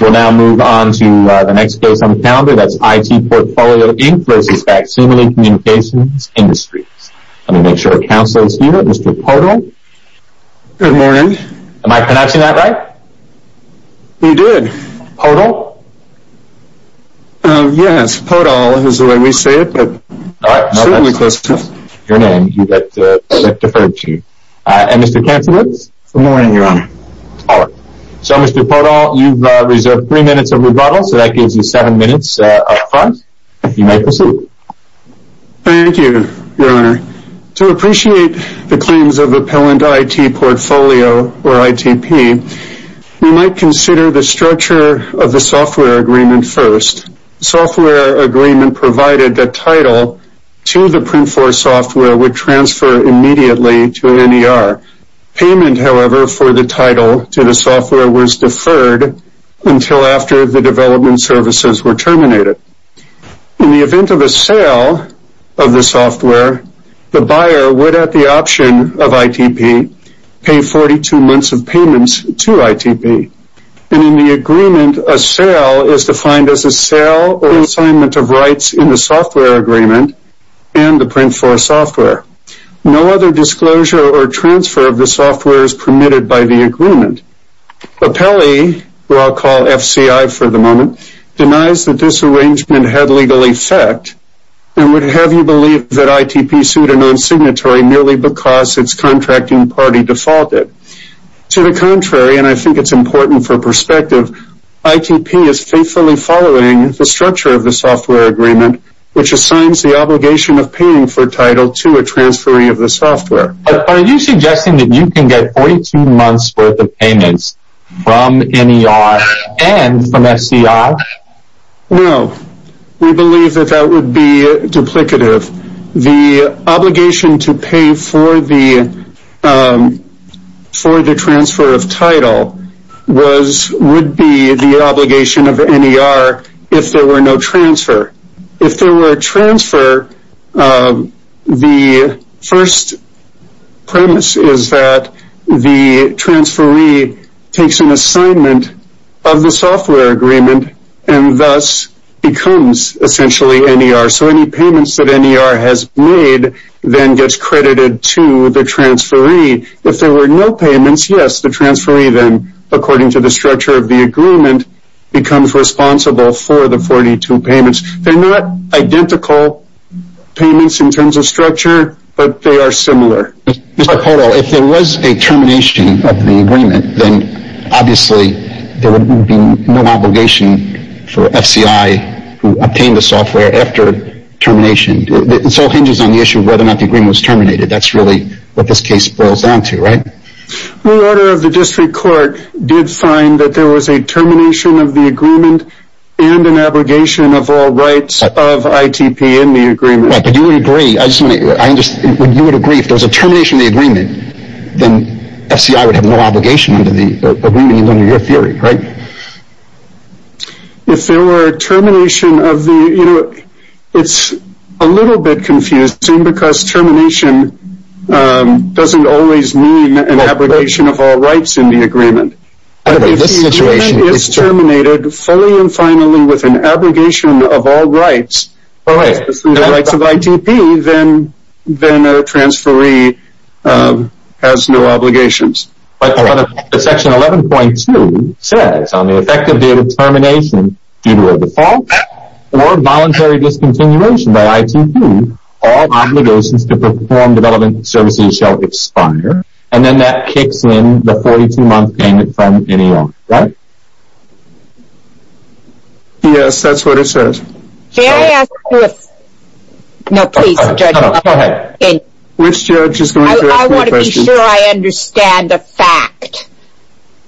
We'll now move on to the next case on the calendar, that's IT Portfolio Inc. v. Facsimile Communications Industries. Let me make sure the counsel is here, Mr. Podol. Good morning. Am I pronouncing that right? You did. Podol? Yes, Podol is the way we say it, but certainly close to it. Your name, you get deferred to. And Mr. Counselor? Good morning, Your Honor. All right. So, Mr. Podol, you've reserved three minutes of rebuttal, so that gives you seven minutes up front. You may proceed. Thank you, Your Honor. To appreciate the claims of Appellant IT Portfolio, or ITP, we might consider the structure of the software agreement first. The software agreement provided the title to the Print4 software would transfer immediately to NER. Payment, however, for the software was deferred until after the development services were terminated. In the event of a sale of the software, the buyer would, at the option of ITP, pay 42 months of payments to ITP. And in the agreement, a sale is defined as a sale or assignment of rights in the software agreement and the Print4 software. No other disclosure or transfer of the software is permitted by the agreement. Appellee, who I'll call FCI for the moment, denies that this arrangement had legal effect and would have you believe that ITP sued a non-signatory merely because its contracting party defaulted. To the contrary, and I think it's important for perspective, ITP is faithfully following the structure of the software agreement, which assigns the obligation of paying for title to a transferring of the software. Are you suggesting that you can get 42 months worth of payments from NER and from FCI? No. We believe that that would be duplicative. The obligation to pay for the transfer of title would be the obligation of NER if there were no transfer. If there were a transfer, the first premise is that the transferee takes an assignment of the software agreement and thus becomes essentially NER. So any payments that NER has made then gets credited to the transferee. If there were no payments, yes, the transferee then, according to the structure of the agreement, becomes responsible for the 42 payments. They're not identical payments in terms of structure, but they are similar. Hold on. If there was a termination of the agreement, then obviously there would be no obligation for FCI who obtained the software after termination. This all hinges on the issue of whether or not the agreement was terminated. That's really what this case boils down to, right? The order of the district court did find that there was a termination of the agreement and an abrogation of all rights of ITP in the agreement. But you would agree, if there was a termination of the agreement, then FCI would have no obligation under your theory, right? It's a little bit confusing because termination doesn't always mean an abrogation of all rights in the agreement. If the agreement is terminated fully and finally with an abrogation of all rights, the rights of ITP, then a transferee has no obligations. Section 11.2 says, on the effect of the termination due to a default or voluntary discontinuation by ITP, all obligations to perform development services shall expire. And then that kicks in the 42-month payment from any owner, right? Yes, that's what it says. I want to be sure I understand the fact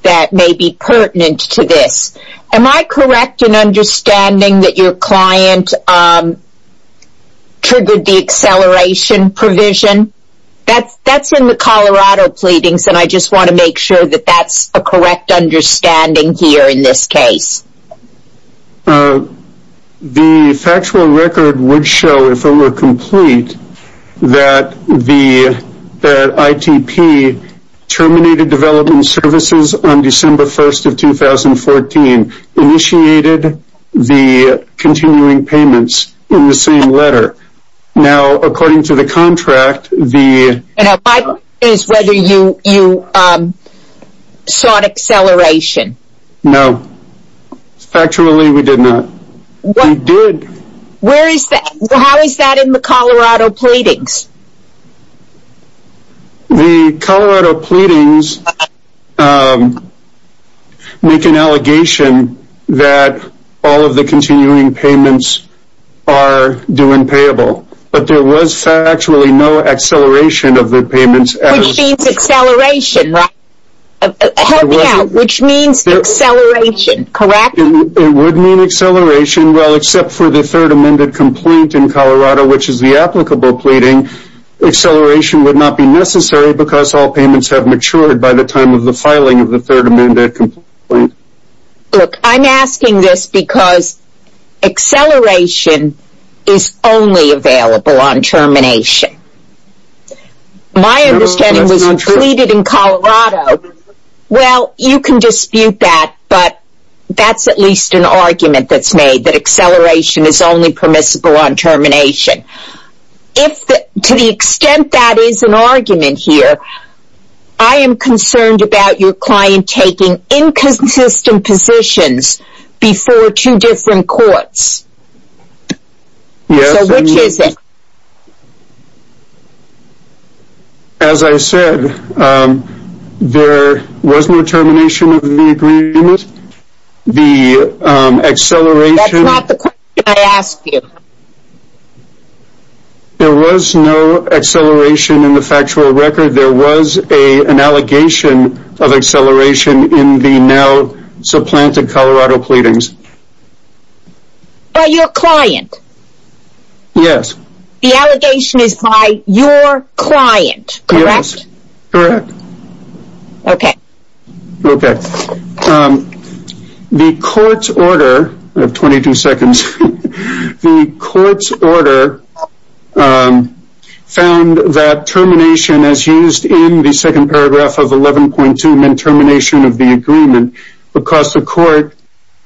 that may be pertinent to this. Am I correct in that your client triggered the acceleration provision? That's in the Colorado pleadings, and I just want to make sure that that's a correct understanding here in this case. The factual record would show, if it were complete, that ITP terminated development services on December 1st of 2014, initiated the continuing payments in the same letter. Now, according to the contract, the... And my question is whether you saw an acceleration. No. Factually, we did not. We did. Where is that? How is that in the Colorado pleadings? The Colorado pleadings make an allegation that all of the continuing payments are due and payable. But there was factually no acceleration of the payments. Which means acceleration, right? Help me out. Which means acceleration, correct? It would mean acceleration, well, except for the third amended complaint in Colorado, which is the applicable pleading. Acceleration would not be necessary because all payments have matured by the time of the filing of the third amended complaint. Look, I'm asking this because acceleration is only available on termination. My understanding was completed in Colorado. Well, you can dispute that, but that's at least an argument that's made, that acceleration is only permissible on termination. If, to the extent that is an argument here, I am concerned about your client taking inconsistent positions before two different courts. So, which is it? As I said, there was no termination of the agreement. The acceleration... That's not the question I asked you. There was no acceleration in the factual record. There was an allegation of acceleration in the now supplanted Colorado pleadings. By your client? Yes. The allegation is by your client, correct? Yes, correct. Okay. Okay. Um, the court's order... I have 22 seconds. The court's order found that termination as used in the second paragraph of 11.2 meant termination of the agreement because the court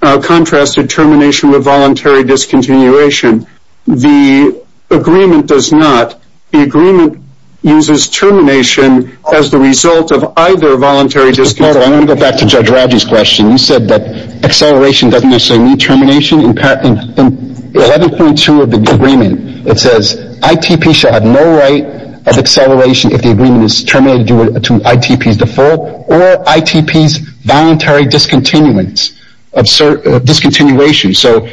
contrasted termination with voluntary discontinuation. The agreement does not. The agreement uses termination as the result of either voluntary discontinuation... I want to go back to Judge Rauji's question. You said that acceleration doesn't necessarily mean termination. In 11.2 of the agreement, it says ITP shall have no right of acceleration if the agreement is terminated due to ITP's default or ITP's voluntary discontinuance of discontinuation. So,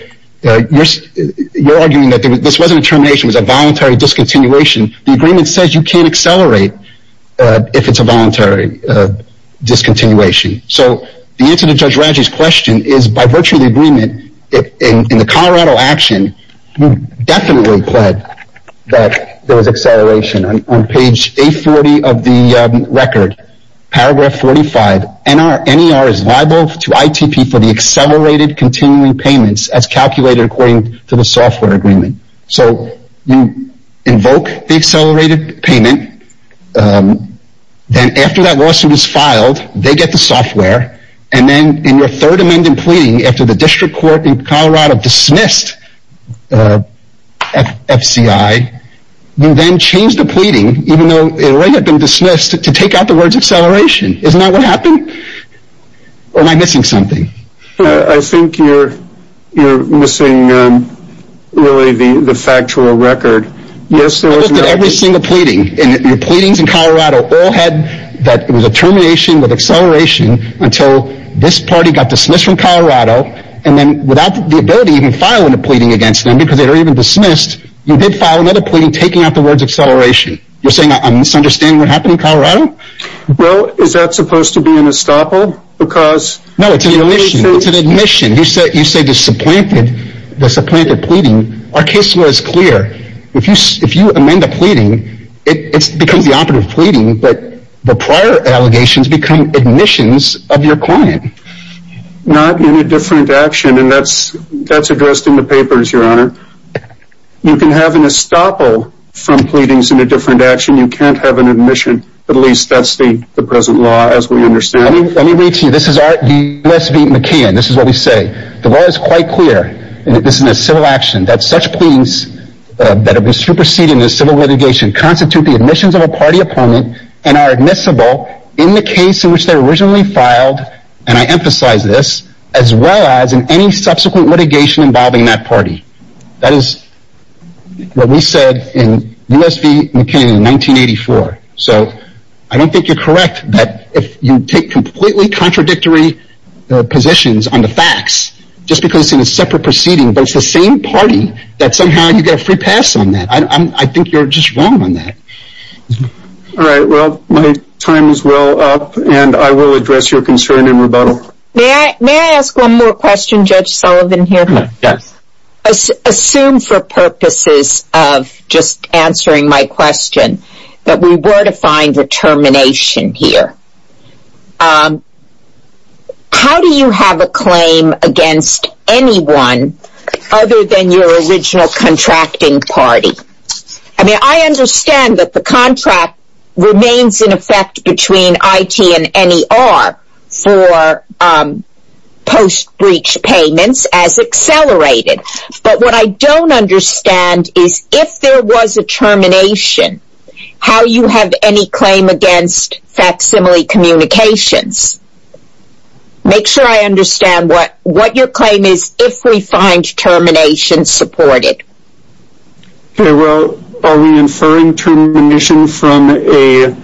you're arguing that this wasn't a termination. It was a voluntary discontinuation. The agreement says you can't accelerate if it's a voluntary discontinuation. So, the answer to Judge Rauji's question is by virtue of the agreement, in the Colorado action, you definitely pled that there was acceleration. On page 840 of the record, paragraph 45, NER is liable to ITP for the accelerated continuing payments as calculated according to the software agreement. So, you invoke the accelerated payment, then after that lawsuit is filed, they get the software, and then in your third amendment pleading after the district court in Colorado dismissed FCI, you then change the pleading, even though it already had been dismissed, to take out the words acceleration. Isn't that what happened? Or am I missing something? I think you're missing really the factual record. I looked at every single pleading, and your pleadings in Colorado all had that it was a termination with acceleration until this party got dismissed from Colorado, and then without the ability to even file a pleading against them because they were even dismissed, you did file another pleading taking out the words acceleration. You're saying I'm misunderstanding what happened in Colorado? Well, is that supposed to be an estoppel? No, it's an admission. You say the supplanted pleading. Our case law is clear. If you amend a pleading, it becomes the operative pleading, but the prior allegations become admissions of your client. Not in a different action, and that's addressed in the papers, your honor. You can have an estoppel from pleadings in a different action. You can't have an admission. At least that's the present law as we understand it. Let me read to you. This is our U.S.V. McKeon. This is what we say. The law is quite clear, and this is a civil action, that such pleadings that have been superseded in a civil litigation constitute the admissions of a party opponent and are admissible in the case in which they were originally filed, and I emphasize this, as well as in any subsequent litigation involving that party. That is what we said in U.S.V. McKeon in 1984. So I don't think you're correct that if you take completely contradictory positions on the facts, just because it's in a separate proceeding, but it's the same party, that somehow you get a free pass on that. I think you're just wrong on that. All right. Well, my time is well up, and I will address your concern in rebuttal. May I ask one more question, Judge Sullivan, here? Yes. Assume for purposes of just answering my question that we were to find a termination here. How do you have a claim against anyone other than your original contracting party? I mean, I understand that the contract remains in effect between IT and NER for post-breach payments as accelerated. But what I don't understand is if there was a termination, how you have any claim against facsimile communications. Make sure I understand what your claim is if we find termination supported. Okay. Well, are we inferring termination from a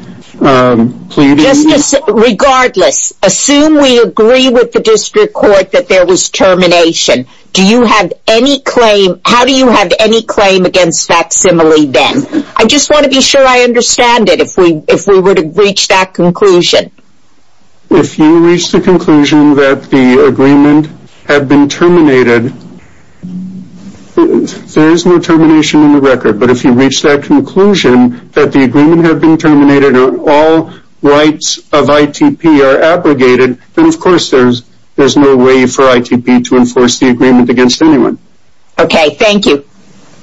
pleading? Regardless, assume we agree with the district court that there was termination. How do you have any claim against facsimile then? I just want to be sure I understand it if we were to reach that conclusion. If you reach the conclusion that the agreement had been terminated, there is no termination in the record. But if you reach that conclusion that the agreement had been terminated and all rights of ITP are abrogated, then of course there's no way for ITP to enforce the agreement against anyone. Okay. Thank you.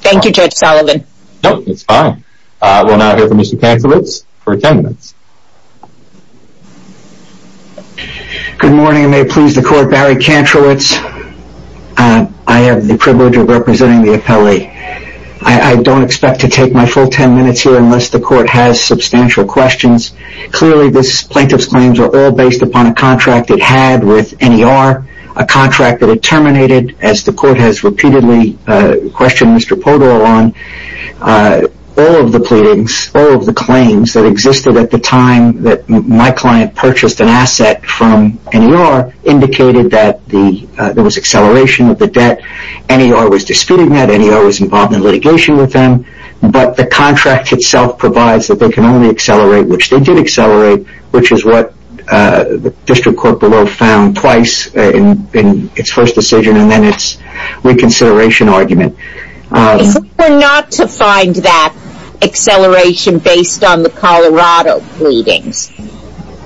Thank you, Judge Sullivan. No, it's fine. We'll now hear from Mr. Kantrowicz for attendance. Good morning. I have the privilege of representing the appellee. I don't expect to take my full 10 minutes here unless the court has substantial questions. Clearly, this plaintiff's claims are all based upon a contract it had with NER, a contract that it terminated as the court has repeatedly questioned Mr. Podol on. All of the pleadings, all of the claims that existed at the time that my client purchased an asset from NER indicated that there was acceleration of the debt. NER was disputing that. NER was involved in litigation with them. But the contract itself provides that they can only accelerate, which they did accelerate, which is what the district court below found twice in its first decision and then its reconsideration argument. If we're not to find that acceleration based on the Colorado pleadings,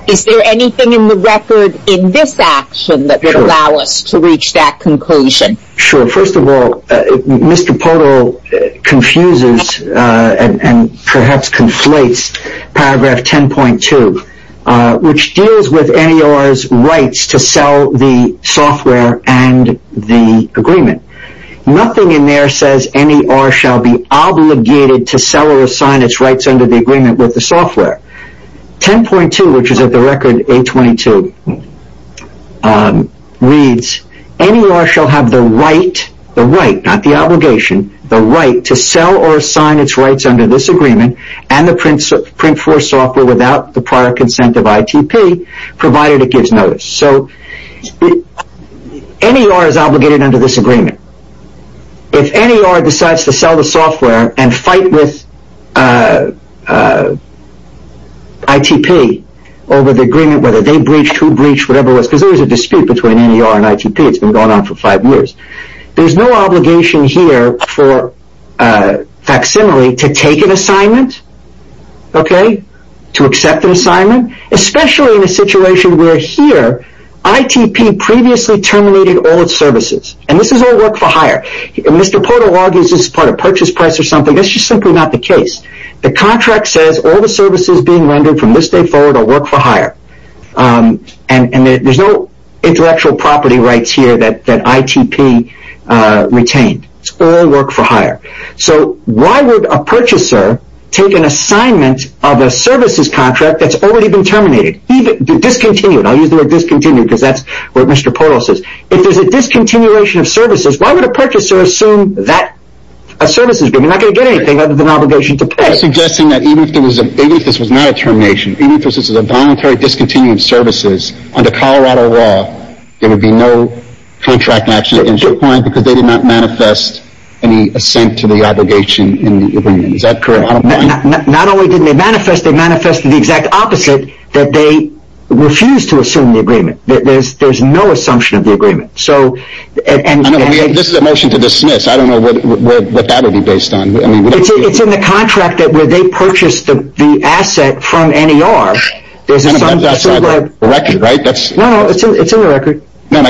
is there anything in the record in this action that would allow us to reach that conclusion? Sure. First of all, Mr. Podol confuses and perhaps conflates paragraph 10.2, which deals with NER's rights to sell the software and the agreement. Nothing in there says NER shall be obligated to sell or assign its rights under the agreement with the software. 10.2, which is at the record 822, reads NER shall have the right, the right, not the obligation, the right to sell or assign its rights under this agreement and the print for software without the prior consent of ITP provided it gives notice. So NER is obligated under this agreement. If NER decides to sell the software and fight with ITP over the agreement, whether they breached, who breached, whatever it was, because there was a dispute between NER and ITP. It's been going on for five years. There's no obligation here for facsimile to take an assignment, to accept an assignment, especially in a situation where here ITP previously terminated all its services. And this is all work for hire. Mr. Porto argues this is part of purchase price or something. That's just simply not the case. The contract says all the services being rendered from this day forward are work for hire. And there's no intellectual property rights here that ITP retained. It's all work for hire. So why would a purchaser take an assignment of a services contract that's already been terminated, discontinued? I'll use the word discontinued because that's what Mr. Porto says. If there's a discontinuation of services, why would a purchaser assume that a services agreement, you're not going to get anything other than an obligation to pay. You're suggesting that even if this was not a termination, even if this was a voluntary discontinued services under Colorado law, there would be no contract action against your client because they did not manifest any assent to the obligation in the agreement. Is that correct? Not only didn't they manifest, they manifested the exact opposite, that they refused to assume the agreement. There's no assumption of the agreement. This is a motion to dismiss. I don't know what that would be based on. It's in the contract where they purchased the asset from NER. There's a record, right? No, no, it's in the record. How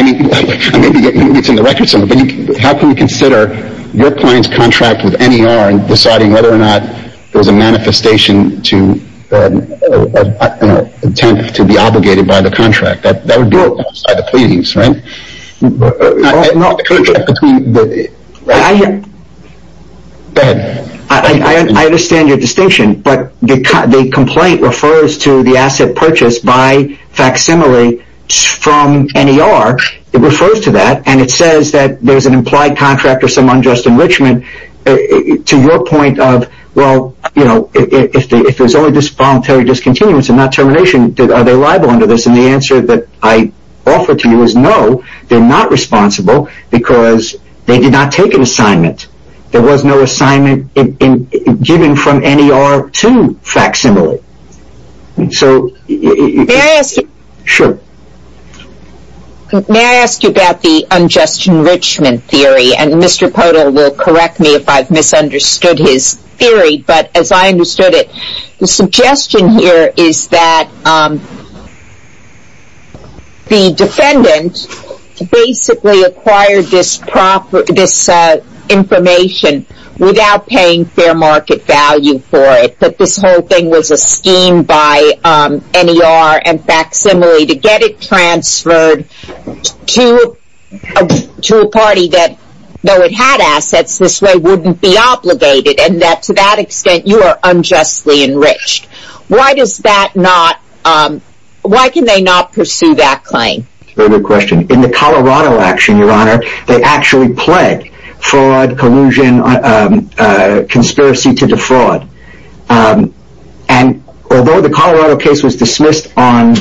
can we consider your client's contract with NER and deciding whether or not there was a manifestation to an attempt to be obligated by the contract? That would be outside the pleadings, right? I understand your distinction, but the complaint refers to the asset purchased by facsimile from NER. It refers to that and it says that there's an implied contract or some unjust enrichment to your point of, well, you know, if there's only voluntary discontinuance and not termination, are they liable under this? And the answer that I offer to you is no, they're not responsible because they did not take an assignment. There was no assignment given from NER to facsimile. May I ask you about the unjust enrichment theory? And Mr. Podol will correct me if I've misunderstood his theory, but as I understood it, the suggestion here is that the defendant basically acquired this information without paying fair market value for it. But this whole thing was a scheme by NER and facsimile to get it transferred to a party that, though it had assets, this way wouldn't be obligated and that to that extent you are unjustly enriched. Why does that not, why can they not pursue that claim? That's a very good question. In the Colorado action, Your Honor, they actually pled fraud, collusion, conspiracy to defraud. And although the Colorado case was dismissed on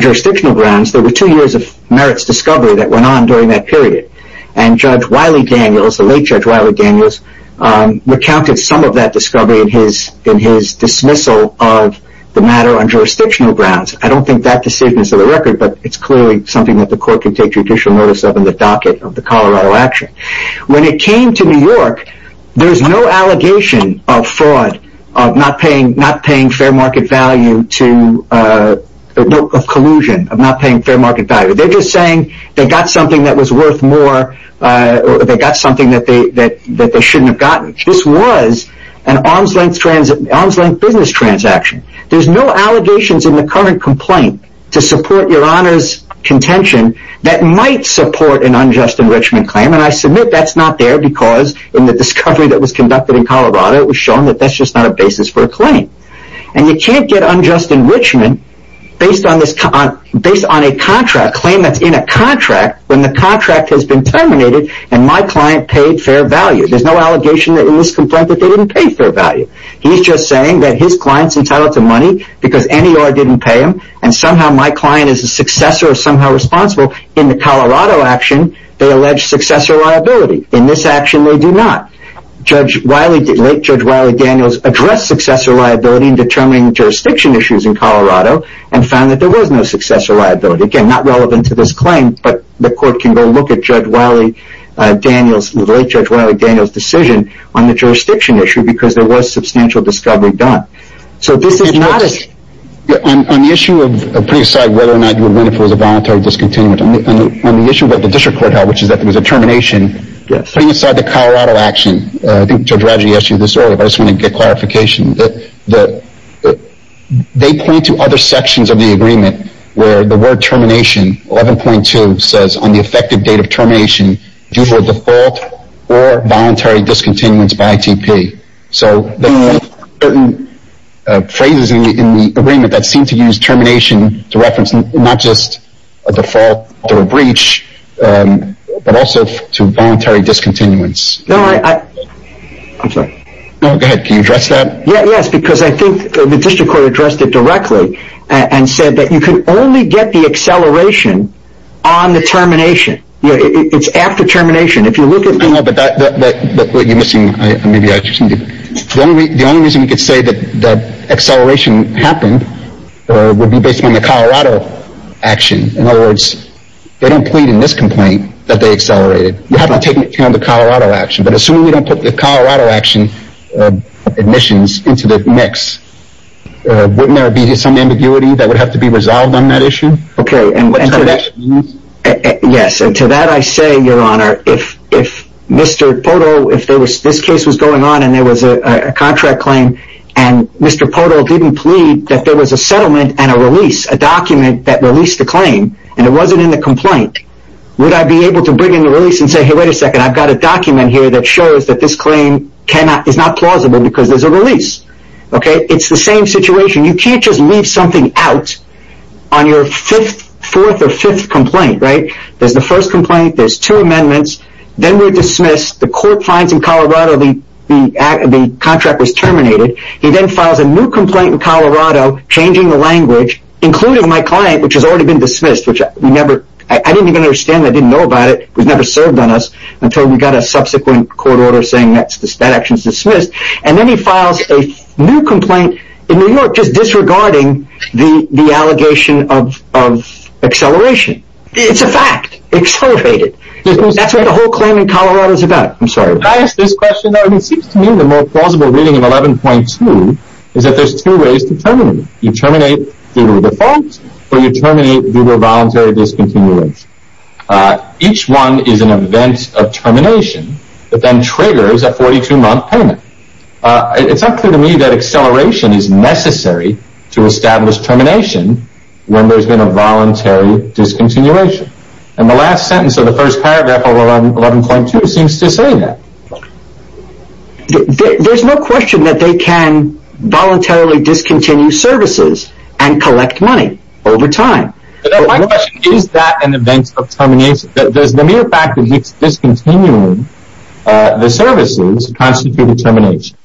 jurisdictional grounds, there were two years of merits discovery that went on during that period. And Judge Wiley Daniels, the late Judge Wiley Daniels recounted some of that discovery in his dismissal of the matter on jurisdictional grounds. I don't think that's the safeness of the record, but it's clearly something that the court can take judicial notice of in the docket of the Colorado action. When it came to New York, there's no allegation of fraud, of not paying fair market value to, of collusion, of not paying fair market value. They're just saying they got something that was worth more, they got something that they shouldn't have gotten. This was an arm's length business transaction. There's no allegations in the current complaint to support Your Honor's contention that might support an unjust enrichment claim. And I submit that's not there because in the discovery that was conducted in Colorado, it was shown that that's just not a basis for a claim. And you can't get unjust enrichment based on a contract, a claim that's in a contract when the contract has been terminated and my client paid fair value. There's no allegation in this complaint that they didn't pay fair value. He's just saying that his client's entitled to money because NER didn't pay him and somehow my client is a successor or somehow responsible. In the Colorado action, they allege successor liability. In this action, they do not. Late Judge Wiley Daniels addressed successor liability in determining jurisdiction issues in Colorado and found that there was no successor liability. Again, not relevant to this claim, but the court can go look at Judge Wiley Daniels, the late Judge Wiley Daniels' decision on the jurisdiction issue because there was substantial discovery done. So this is not a... Judge, on the issue of putting aside whether or not you would win if it was a voluntary discontinuance, on the issue that the district court held, which is that there was a termination, putting aside the Colorado action, I think Judge Radji asked you this earlier, but I just wanted to get clarification. They point to other sections of the agreement where the word termination, 11.2, says on the effective date of termination, due to a default or voluntary discontinuance by T.P. So there are certain phrases in the agreement that seem to use termination to reference not just a default or a breach, but also to voluntary discontinuance. No, I... I'm sorry. No, go ahead. Can you address that? Yeah, yes, because I think the district court addressed it directly and said that you can only get the acceleration on the termination. It's after termination. If you look at... No, but you're missing... The only reason we could say that the acceleration happened would be based on the Colorado action. In other words, they don't plead in this complaint that they accelerated. We haven't taken into account the Colorado action, but assuming we don't put the Colorado action admissions into the mix, wouldn't there be some ambiguity that would have to be resolved on that issue? Yes, and to that I say, Your Honor, if Mr. Poto... If this case was going on and there was a contract claim, and Mr. Poto didn't plead that there was a settlement and a release, a document that released the claim, and it wasn't in the complaint, would I be able to bring in the release and say, hey, wait a second, I've got a document here that shows that this claim is not plausible because there's a release. It's the same situation. You can't just leave something out on your fourth or fifth complaint, right? There's the first complaint. There's two amendments. Then we're dismissed. The court finds in Colorado the contract was terminated. He then files a new complaint in Colorado, changing the language, including my client, which has already been dismissed, which I didn't even understand. I didn't know about it. It was never served on us until we got a subsequent court order saying that action is dismissed, and then he files a new complaint in New York just disregarding the allegation of acceleration. It's a fact. Accelerated. That's what the whole claim in Colorado is about. I'm sorry. Can I ask this question? It seems to me the more plausible reading of 11.2 is that there's two ways to terminate. You terminate through default or you terminate through a voluntary discontinuation. Each one is an event of termination that then triggers a 42-month payment. It's unclear to me that acceleration is necessary to establish termination when there's been a voluntary discontinuation. The last sentence of the first paragraph of 11.2 seems to say that. There's no question that they can voluntarily discontinue services and collect money over time. My question is that an event of termination. Does the mere fact that he's discontinued the services constitute a termination?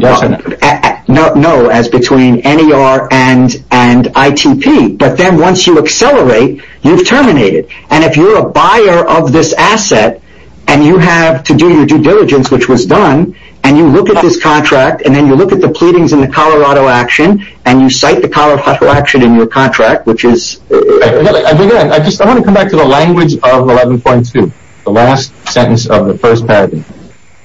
No, as between NER and ITP. But then once you accelerate, you've terminated. And if you're a buyer of this asset and you have to do your due diligence, which was done, and you look at this contract and then you look at the pleadings in the Colorado action and you cite the Colorado action in your contract, which is... I just want to come back to the language of 11.2. The last sentence of the first paragraph.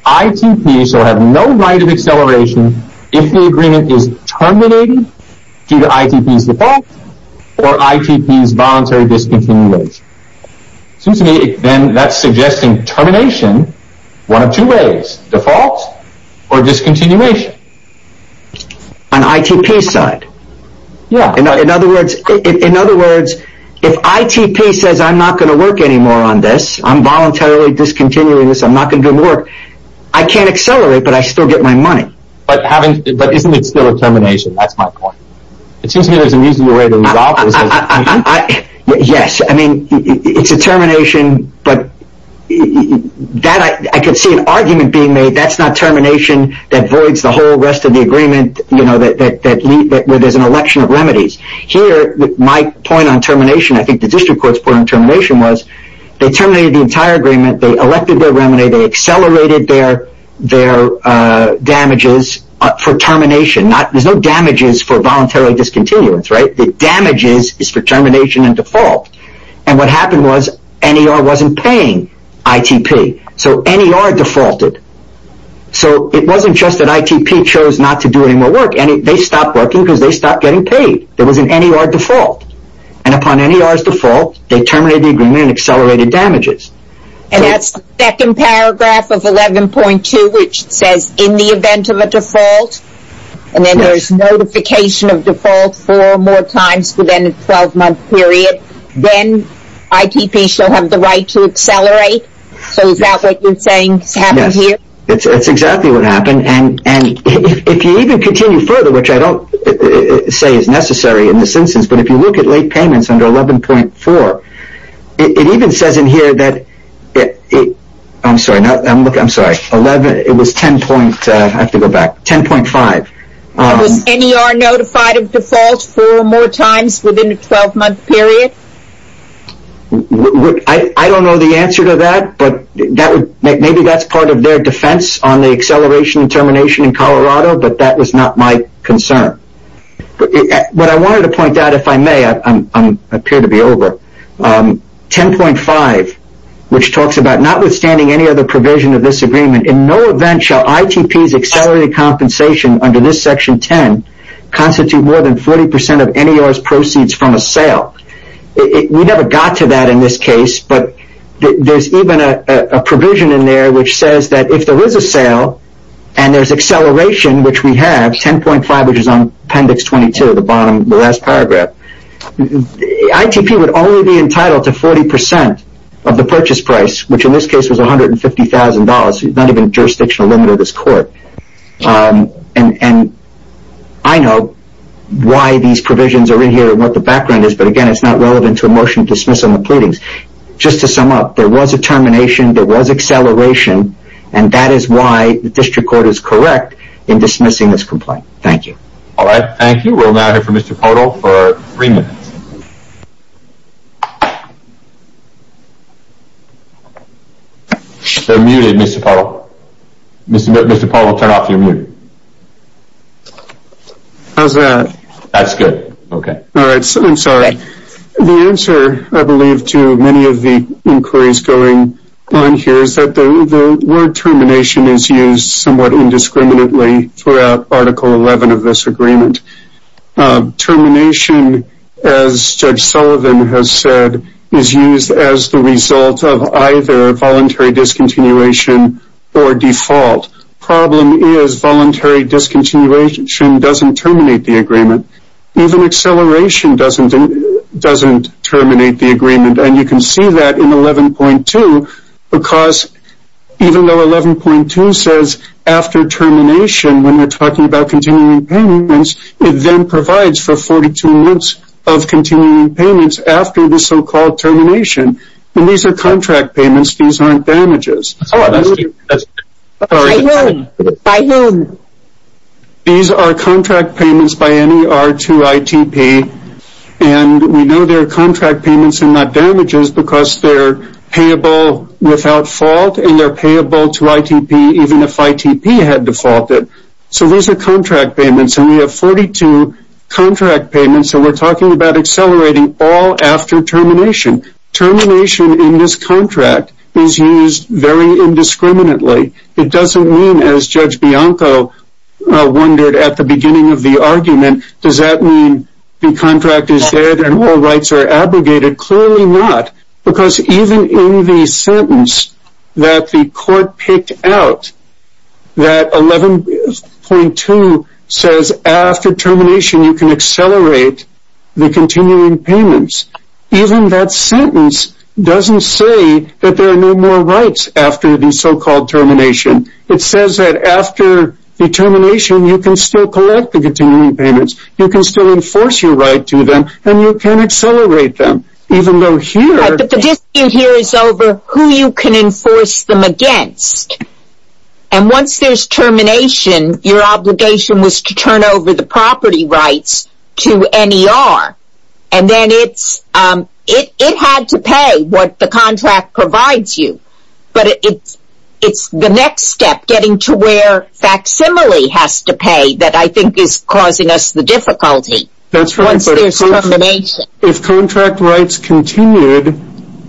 ITP shall have no right of acceleration if the agreement is terminated due to ITP's default or ITP's voluntary discontinuation. Seems to me then that's suggesting termination one of two ways, default or discontinuation. On ITP's side. In other words, if ITP says, I'm not going to work anymore on this. I'm voluntarily discontinuing this. I'm not going to work. I can't accelerate, but I still get my money. But isn't it still a termination? That's my point. It seems to me there's an easier way to resolve this. Yes, it's a termination, but I could see an argument being made that's not termination that voids the whole rest of the agreement where there's an election of remedies. Here, my point on termination, I think the district court's point on termination was they terminated the entire agreement. They elected their remedy. They accelerated their damages for termination. There's no damages for voluntary discontinuance. The damages is for termination and default. What happened was NER wasn't paying ITP. NER defaulted. So, it wasn't just that ITP chose not to do any more work. They stopped working because they stopped getting paid. There was an NER default. And upon NER's default, they terminated the agreement and accelerated damages. And that's the second paragraph of 11.2, which says in the event of a default, and then there's notification of default four more times within a 12-month period, then ITP shall have the right to accelerate. So, is that what you're saying has happened here? That's exactly what happened. And if you even continue further, which I don't say is necessary in this instance, but if you look at late payments under 11.4, it even says in here that, I'm sorry, 11, it was 10 point, I have to go back, 10.5. Was NER notified of default four more times within a 12-month period? I don't know the answer to that. But maybe that's part of their defense on the acceleration and termination in Colorado, but that was not my concern. But I wanted to point out, if I may, I appear to be over, 10.5, which talks about notwithstanding any other provision of this agreement, in no event shall ITP's accelerated compensation under this section 10 constitute more than 40% of NER's proceeds from a sale. We never got to that in this case. But there's even a provision in there which says that if there is a sale and there's acceleration, which we have, 10.5, which is on appendix 22, the bottom, the last paragraph, ITP would only be entitled to 40% of the purchase price, which in this case was $150,000, not even jurisdictional limit of this court. And I know why these provisions are in here and what the background is. Again, it's not relevant to a motion to dismiss on the pleadings. Just to sum up, there was a termination, there was acceleration, and that is why the district court is correct in dismissing this complaint. Thank you. All right. Thank you. We'll now hear from Mr. Podol for three minutes. They're muted, Mr. Podol. Mr. Podol, turn off your mute. How's that? That's good. Okay. I'm sorry. The answer, I believe, to many of the inquiries going on here is that the word termination is used somewhat indiscriminately throughout Article 11 of this agreement. Termination, as Judge Sullivan has said, is used as the result of either voluntary discontinuation or default. Even acceleration doesn't terminate the agreement. And you can see that in 11.2, because even though 11.2 says after termination, when we're talking about continuing payments, it then provides for 42 months of continuing payments after the so-called termination. And these are contract payments. These aren't damages. These are contract payments by NER to ITP. And we know they're contract payments and not damages because they're payable without fault and they're payable to ITP even if ITP had defaulted. So these are contract payments. And we have 42 contract payments. And we're talking about accelerating all after termination. Termination in this contract is used very indiscriminately. It doesn't mean, as Judge Bianco wondered at the beginning of the argument, does that mean the contract is dead and all rights are abrogated? Clearly not, because even in the sentence that the court picked out, that 11.2 says after termination, you can accelerate the continuing payments. Even that sentence doesn't say that there are no more rights after the so-called termination. It says that after the termination, you can still collect the continuing payments. You can still enforce your right to them. And you can accelerate them, even though here... Right, but the dispute here is over who you can enforce them against. And once there's termination, your obligation was to turn over the property rights to NER. And then it had to pay what the contract provides you. But it's the next step, getting to where facsimile has to pay, that I think is causing us the difficulty once there's termination. If contract rights continued,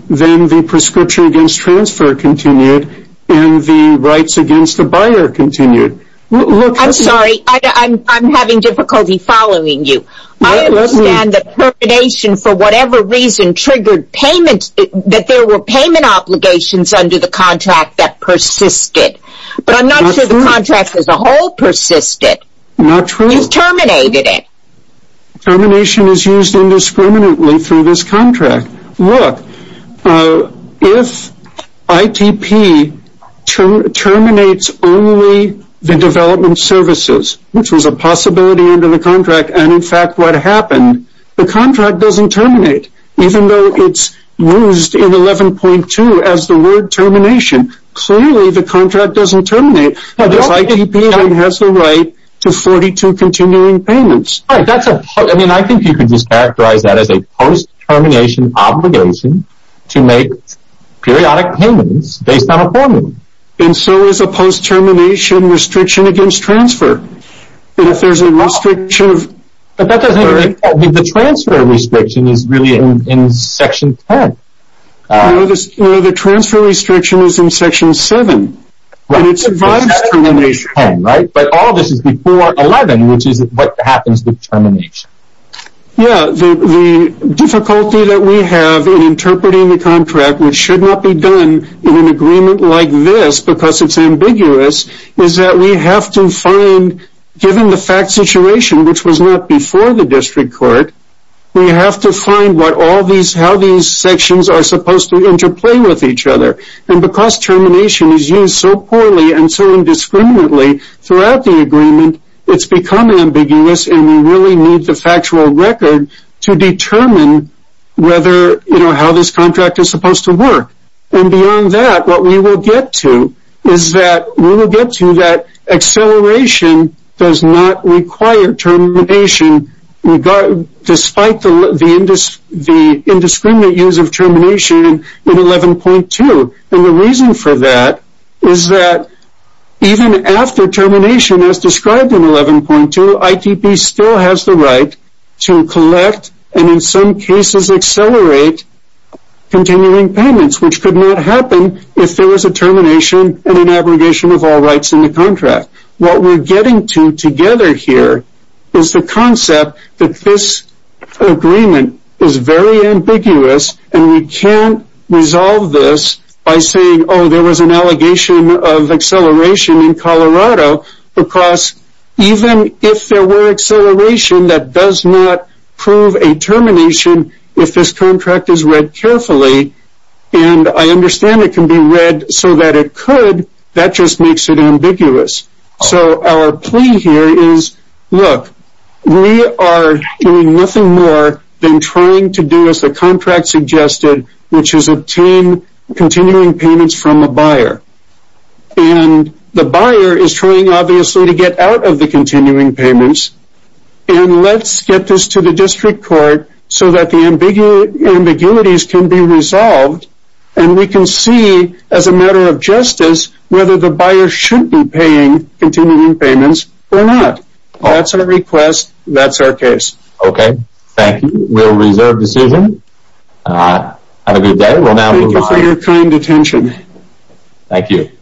then the prescription against transfer continued, and the rights against the buyer continued. I'm sorry, I'm having difficulty following you. I understand that termination, for whatever reason, triggered payments, that there were payment obligations under the contract that persisted. But I'm not sure the contract as a whole persisted. Not true. You terminated it. Termination is used indiscriminately through this contract. Look, if ITP terminates only the development services, which was a possibility under the contract, and in fact what happened, the contract doesn't terminate. Even though it's used in 11.2 as the word termination, clearly the contract doesn't terminate. But if ITP has the right to 42 continuing payments... Right, that's a... I mean, I think you could just characterize that as a post-termination obligation to make periodic payments based on a formula. And so is a post-termination restriction against transfer. And if there's a restriction of... The transfer restriction is really in section 10. The transfer restriction is in section 7. It survives termination. But all this is before 11, which is what happens with termination. Yeah, the difficulty that we have in interpreting the contract, which should not be done in an agreement like this because it's ambiguous, is that we have to find, given the fact situation, which was not before the district court, we have to find how these sections are supposed to interplay with each other. And because termination is used so poorly and so indiscriminately throughout the agreement, it's become ambiguous and we really need the factual record to determine whether, you know, how this contract is supposed to work. And beyond that, what we will get to is that we will get to that acceleration does not require termination despite the indiscriminate use of termination in 11.2. And the reason for that is that even after termination as described in 11.2, ITP still has the right to collect and in some cases accelerate continuing payments, which could not happen if there was a termination and an abrogation of all rights in the contract. What we're getting to together here is the concept that this agreement is very ambiguous and we can't resolve this by saying, because even if there were acceleration, that does not prove a termination if this contract is read carefully. And I understand it can be read so that it could, that just makes it ambiguous. So our plea here is, look, we are doing nothing more than trying to do as the contract suggested, which is obtain continuing payments from a buyer. And the buyer is trying obviously to get out of the continuing payments and let's get this to the district court so that the ambiguities can be resolved and we can see as a matter of justice whether the buyer should be paying continuing payments or not. That's our request. That's our case. Okay, thank you. We'll reserve decision. Have a good day. We'll now move on. Thank you for your kind attention. Thank you.